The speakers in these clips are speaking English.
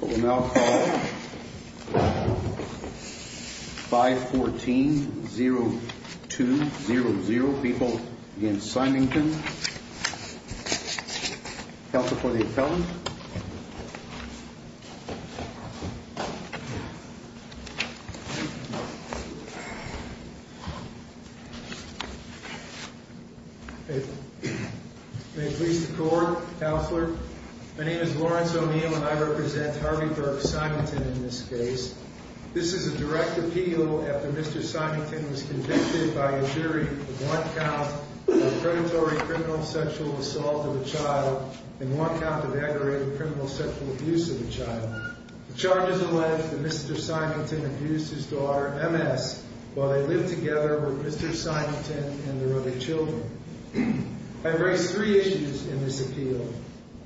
We will now call 514-02-00, people v. Simington. Counsel for the appellant. May it please the Court, Counselor. My name is Lawrence O'Neill and I represent Harvey Burke Simington in this case. This is a direct appeal after Mr. Simington was convicted by a jury of one count of predatory criminal sexual assault of a child and one count of aggravated criminal sexual abuse of a child. The charges allege that Mr. Simington abused his daughter, M.S., while they lived together with Mr. Simington and their other children. I have raised three issues in this appeal.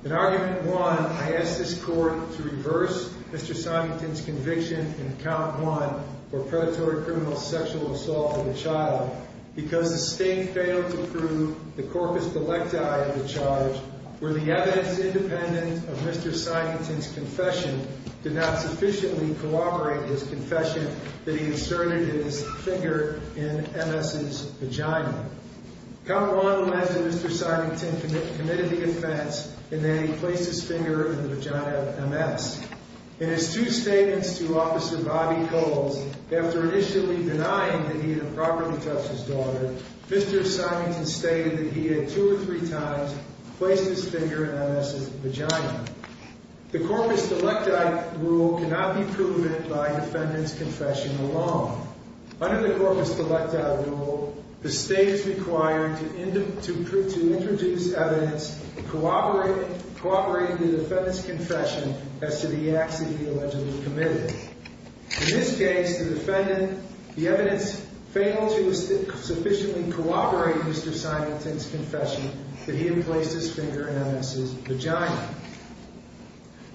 In Argument 1, I ask this Court to reverse Mr. Simington's conviction in Account 1 for predatory criminal sexual assault of a child because the State failed to prove the corpus bolecti of the charge where the evidence independent of Mr. Simington's confession did not sufficiently corroborate his confession that he inserted his finger in M.S.'s vagina. Account 1 alleges Mr. Simington committed the offense in that he placed his finger in the vagina of M.S. In his two statements to the court in which he did not properly touch his daughter, Mr. Simington stated that he had two or three times placed his finger in M.S.'s vagina. The corpus bolecti rule cannot be proven by defendant's confession alone. Under the corpus bolecti rule, the State is required to introduce evidence corroborating the defendant's confession as to the acts that he allegedly committed. In this case, the defendant, the evidence failed to sufficiently corroborate Mr. Simington's confession that he had placed his finger in M.S.'s vagina.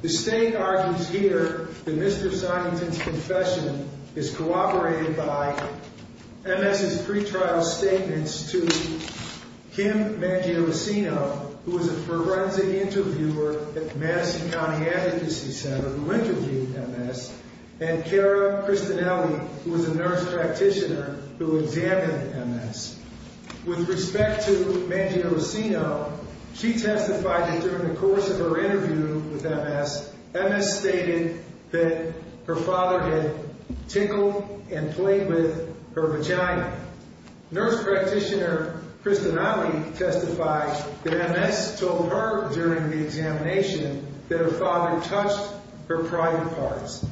The State argues here that Mr. Simington's confession is corroborated by M.S.'s pretrial statements to Kim Mangielissino, who was a forensic interviewer at Madison County Advocacy Center who interviewed M.S., and Cara Cristanelli, who was a nurse practitioner who examined M.S. With respect to Mangielissino, she testified that during the course of her interview with M.S., M.S. stated that her father had tickled and played with her vagina. Nurse practitioner Cristanelli testified that M.S. told her during the examination that her father touched her private parts.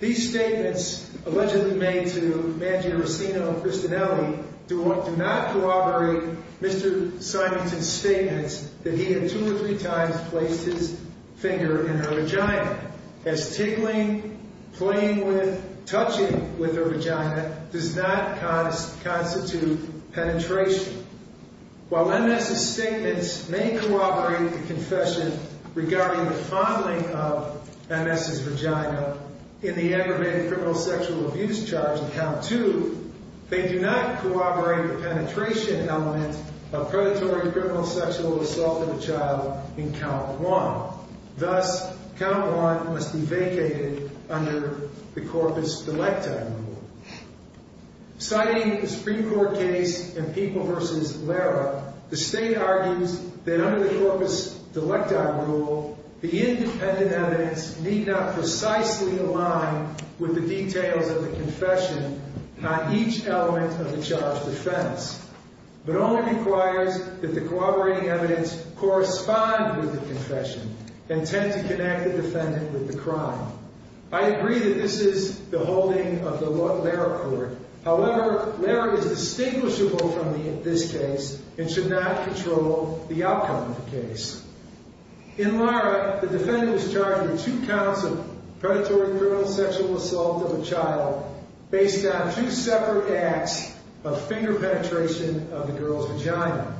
These statements allegedly made to Mangielissino and Cristanelli do not corroborate Mr. Simington's statements that he had two or three times placed his finger in her vagina, as tickling, playing with, touching with her vagina does not constitute penetration. While M.S.'s statements may corroborate the confession regarding the fondling of M.S.'s vagina in the aggravated criminal sexual abuse charge in Count II, they do not corroborate the penetration element of predatory criminal sexual assault of a child in Count I. Thus, Count I must be vacated under the corpus delectae rule. Citing the Supreme Court case in People v. Lara, the State argues that under the corpus delectae rule, the independent evidence need not precisely align with the details of the confession on each element of the charge defense, but only requires that the corroborating evidence correspond with the confession and tend to connect the defendant with the crime. I agree that this is the holding of the Lara court. However, Lara is distinguishable from this case and should not control the outcome of the case. In Lara, the defendant was charged with two counts of predatory criminal sexual assault of a child based on two separate acts of finger penetration of the girl's vagina.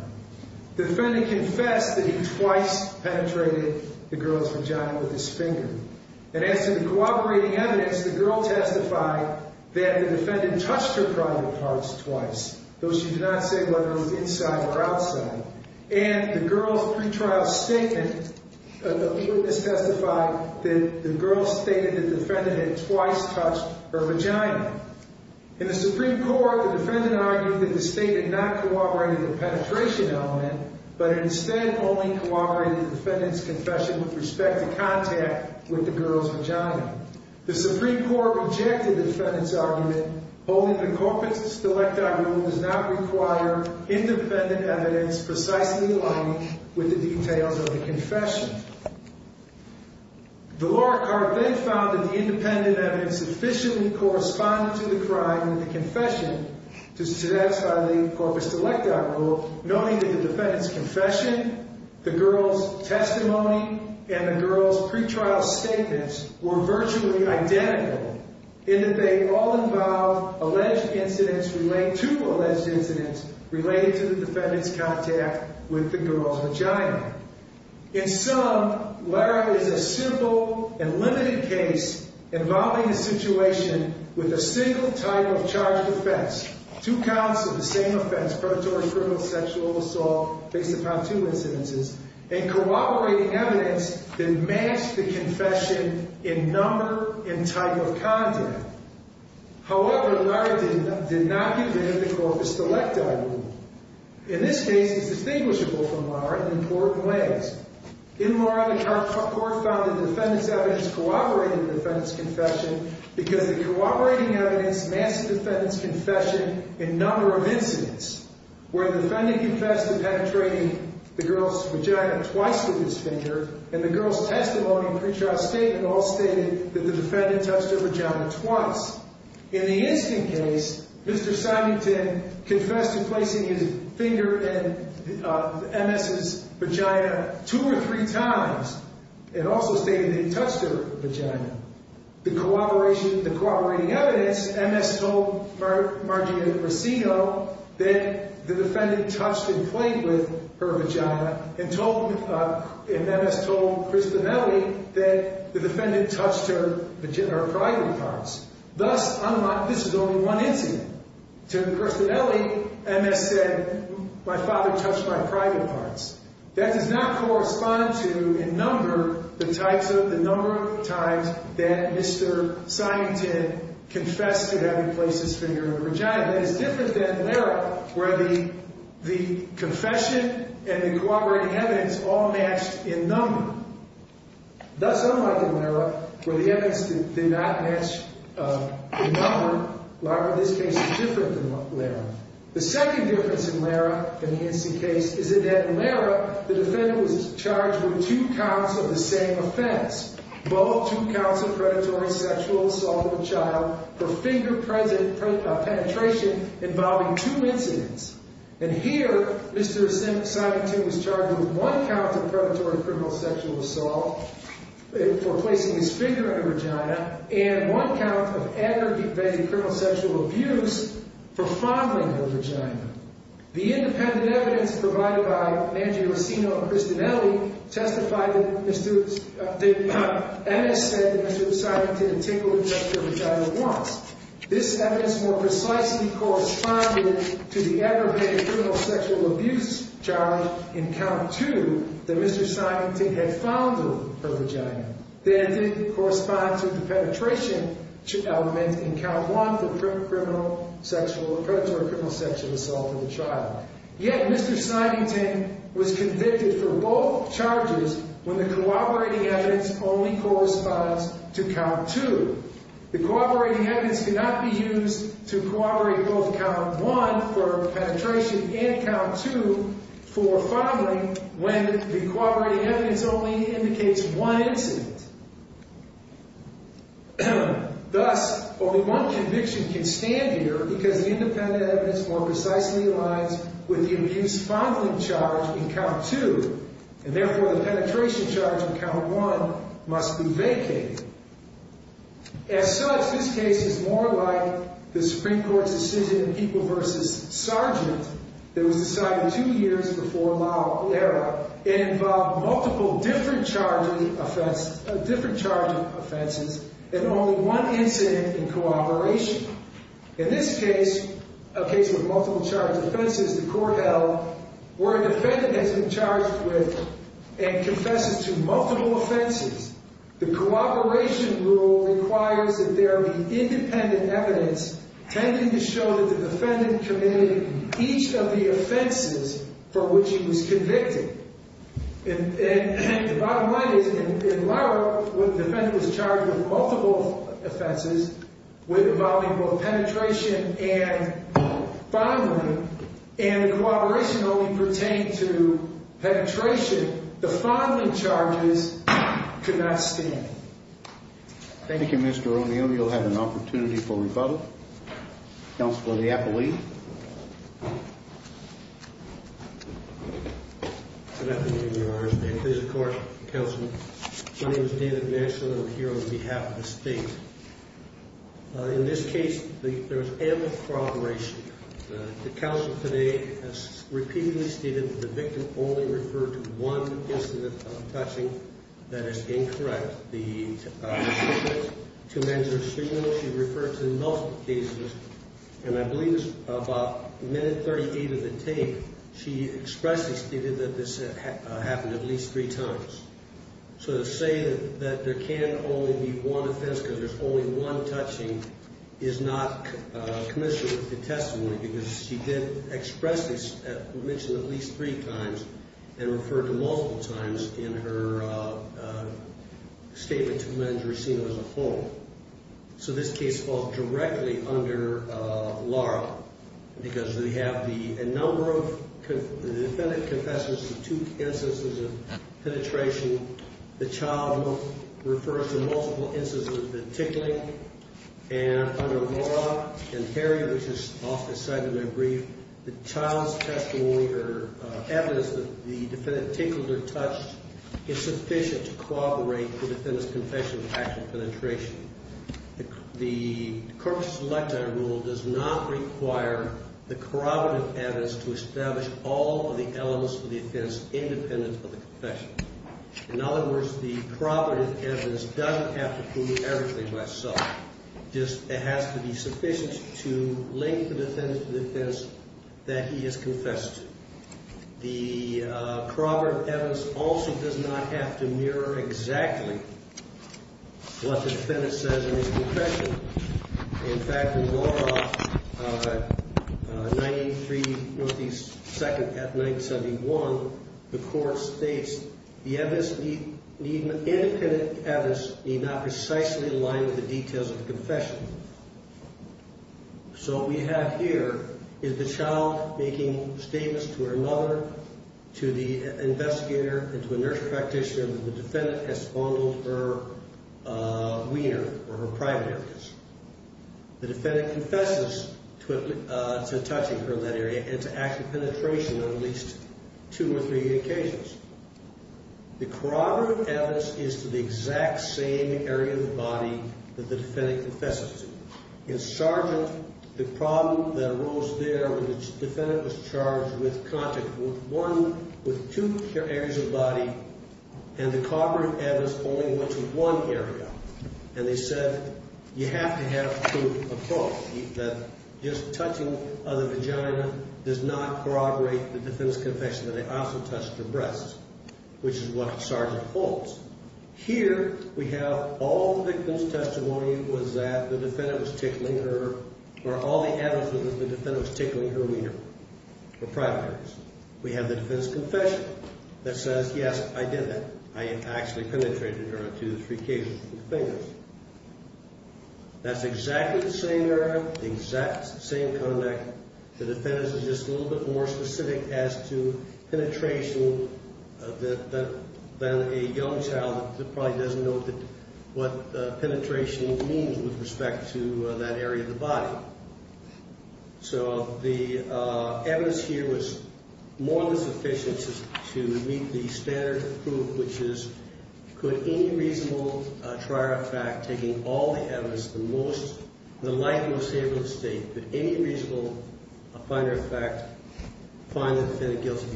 The defendant confessed that he twice penetrated the girl's vagina with his finger. And as to the corroborating evidence, the girl testified that the defendant touched her private parts twice, though she did not say whether it was inside or outside. And the girl's pretrial statement, the witness testified that the girl stated that the defendant had twice touched her vagina. In the Supreme Court, the defendant argued that the state had not corroborated the penetration element, but instead only corroborated the defendant's confession with respect to contact with the girl's vagina. The Supreme Court rejected the defendant's argument, holding the corpus delectae rule does not require independent evidence precisely aligning with the details of the confession. The Lara court then found that the independent evidence sufficiently corresponded to the crime in the confession to satisfy the corpus delectae rule, noting that the defendant's confession, the girl's testimony, and the girl's pretrial statements were virtually identical in that they all involved alleged incidents related to alleged incidents related to the defendant's contact with the girl's with a single type of charged offense, two counts of the same offense, predatory criminal sexual assault based upon two incidences, and corroborating evidence that matched the confession in number and type of contact. However, Lara did not get rid of the corpus delectae rule. In this case, it's distinguishable from Lara in important ways. In Lara, the defendant's confession, because the corroborating evidence matched the defendant's confession in number of incidents, where the defendant confessed to penetrating the girl's vagina twice through his finger, and the girl's testimony and pretrial statement all stated that the defendant touched her vagina twice. In the instant case, Mr. Simington confessed to placing his finger in the MS' vagina two or three times, and also stated he touched her vagina. The corroboration, the corroborating evidence, MS told Margie Grissino that the defendant touched and played with her vagina, and told, and MS told Crista Belli that the defendant touched her vagina, her private parts. Thus, unlike, this is only one incident. To Crista Belli, MS said, my father touched my private parts. That does not correspond to, in number, the types of, the number of times that Mr. Simington confessed to having placed his finger in her vagina. It's different than Lara, where the confession and the corroborating evidence all matched in number. Thus, unlike in Lara, where the evidence did not match in number, Lara, this case is different than Lara. The second difference in Lara, in the same offense, both two counts of predatory sexual assault of a child for finger present penetration involving two incidents. And here, Mr. Simington was charged with one count of predatory criminal sexual assault for placing his finger in her vagina, and one count of aggravated criminal sexual abuse for fondling her vagina. The independent evidence provided by Angie Rossino and Crista Belli testified that MS said that Mr. Simington had tinkled her vagina once. This evidence more precisely corresponded to the aggravated criminal sexual abuse charge in count two, that Mr. Simington had fondled her vagina. That didn't correspond to the penetration element in count one, the predatory criminal sexual assault of a child. Yet, Mr. Simington was convicted for both charges when the corroborating evidence only corresponds to count two. The corroborating evidence cannot be used to corroborate both count one for penetration and count two for fondling when the corroborating evidence only indicates one incident. Thus, only one conviction can stand here because the independent evidence more precisely aligns with the abuse fondling charge in count two. And therefore, the penetration charge in count one must be vacated. As such, this case is more like the Supreme Court's decision in People v. Sargent that was decided two years before Lau era. It involved multiple different charging offenses and only one incident in cooperation. In this case, a case where multiple charged offenses the court held, where a defendant has been charged with and confesses to multiple offenses, the cooperation rule requires that there be independent evidence tending to show that the defendant committed each of the offenses for which he was convicted. And the bottom line is, in Lau era, where the defendant was charged with multiple offenses involving both penetration and fondling, and the cooperation only pertained to penetration, the fondling charges could not stand. Thank you, Mr. O'Neill. You'll have an opportunity for rebuttal. Counselor Leopold. Good afternoon, Your Honors. May it please the Court, Counselor. My name is David Manson, and I'm here on behalf of the State. In this case, there was ample cooperation. The Counselor today has repeatedly stated that the victim only referred to one incident of touching. That is incorrect. The two mens or three women, she referred to multiple cases, and I believe about minute 38 of the tape, she expressedly stated that this happened at least three times. So to say that there can only be one offense because there's only one touching is not commensurate with the testimony, because she did expressly mention at least three times and referred to multiple times in her statement to the men as a whole. So this case falls directly under Laura, because we have a number of, the defendant confesses to two instances of penetration. The child refers to multiple instances of the tickling. And under Laura and Harry, which is often cited in their brief, the child's testimony or evidence that the defendant tickled or touched is sufficient to corroborate the defendant's confession of actual penetration. The Corpus Electa rule does not require the corroborative evidence to establish all of the elements of the offense independent of it has to be sufficient to link the defendant to the defense that he has confessed to. The corroborative evidence also does not have to mirror exactly what the defendant says in his confession. In fact, in Laura, 93 North East 2nd at 971, the court states, the evidence need, the independent evidence need not precisely align with the details of the confession. So what we have here is the child making statements to her mother, to the investigator, and to a nurse practitioner that the defendant has fondled her wiener or her private areas. The defendant confesses to touching her in that area and to actual penetration on at least two or three occasions. The corroborative evidence is to the exact same area of the body that the defendant confesses to. In Sargent, the problem that arose there when the defendant was charged with contact with one, with two areas of the body, and the corroborative evidence only went to one area. And they said, you have to have proof that just touching of the vagina does not corroborate the defendant's confession that they also touched her breasts, which is what Sargent holds. Here, we have all the victim's testimony was that the defendant was tickling her, or all the evidence that the defendant was tickling her wiener or private areas. We have the defendant's confession that says, yes, I did that. I actually penetrated her on two or three occasions with my fingers. That's exactly the same area, exact same conduct. The defendant is just a little bit more specific as to penetration than a young child that probably doesn't know what penetration means with respect to that area of the body. So the evidence here was more than sufficient to meet the standard of proof, which is, could any reasonable trier of fact, taking all the evidence, the most, the light and most able of the state, could any reasonable finder of fact find the defendant guilty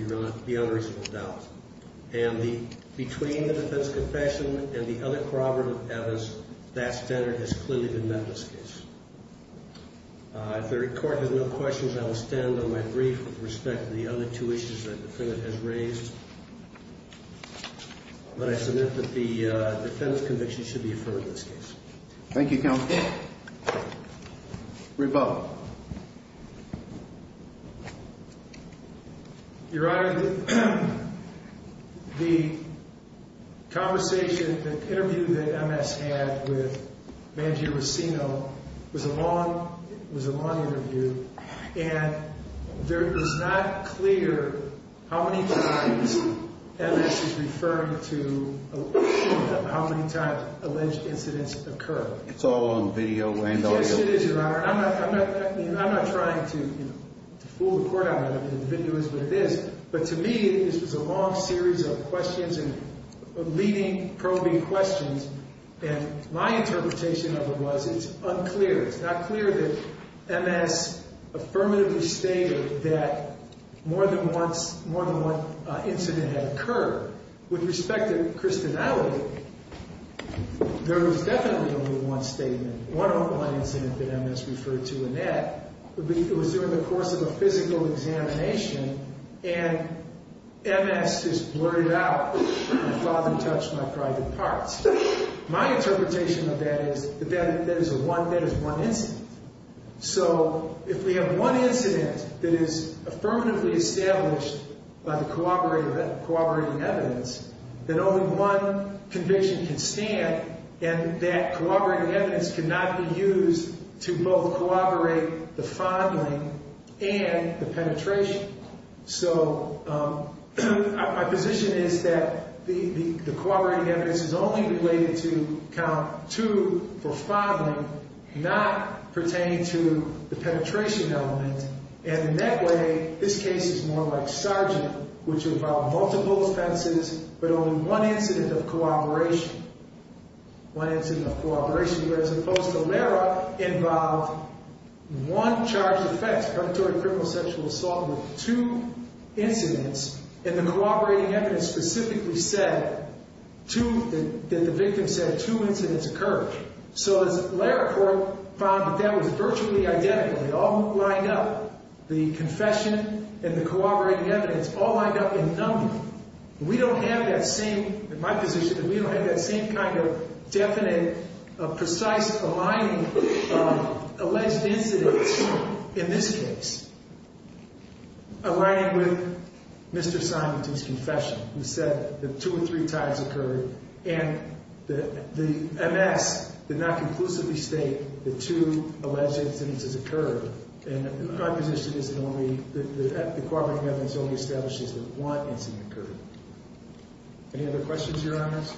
beyond reasonable doubt? And between the defense confession and the other corroborative evidence, that standard has clearly been met in this case. If the Court has no questions, I will stand on my brief with respect to the other two issues that the defendant has raised. But I submit that the defendant's conviction should be affirmed in this case. Thank you, Counsel. Reba. Your Honor, the conversation, the interview that MS had with Mangio Racino was a long interview, and it was not clear how many times MS is referring to, how many times alleged incidents occur. It's all on video and audio. Yes, it is, Your Honor. I'm not trying to fool the Court on that. I mean, the video is what it is. But to me, this was a long series of questions and leading probing questions. And my interpretation of it was it's unclear, it's not clear that MS affirmatively stated that more than once, more than one incident had occurred. With respect to Christianality, there was definitely only one statement, one online incident that MS referred to, and that would be it was during the course of a physical examination, and MS just blurted out, My father touched my private parts. My interpretation of that is that that is one incident. So if we have one incident that is affirmatively established by the corroborating evidence, then only one conviction can stand, and that corroborating evidence cannot be used to both corroborate the fondling and the penetration. So my position is that the corroborating evidence is only related to count two for fondling, not pertaining to the penetration element, and in that way, this case is more like Sargent, which involved multiple offenses, but only one incident of corroboration. One incident of corroboration, whereas opposed to Lara, involved one charged offense, predatory criminal sexual assault with two incidents, and the corroborating evidence specifically said two, that the victim said two incidents occurred. So as Lara found that that was virtually identical, they all lined up, the confession and the corroborating evidence all lined up in number. We don't have that same, in my position, that we don't have that same kind of definite, precise aligning of alleged incidents in this case, aligning with Mr. Simonton's confession, who said that two or three times occurred, and the MS did not conclusively state that two alleged incidents occurred, and my position is that the corroborating evidence only establishes that one incident occurred. Any other questions, Your Honors?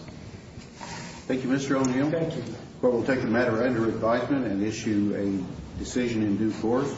Thank you, Mr. O'Neill. Thank you. The Court will take the matter under advisement and issue a decision in due course.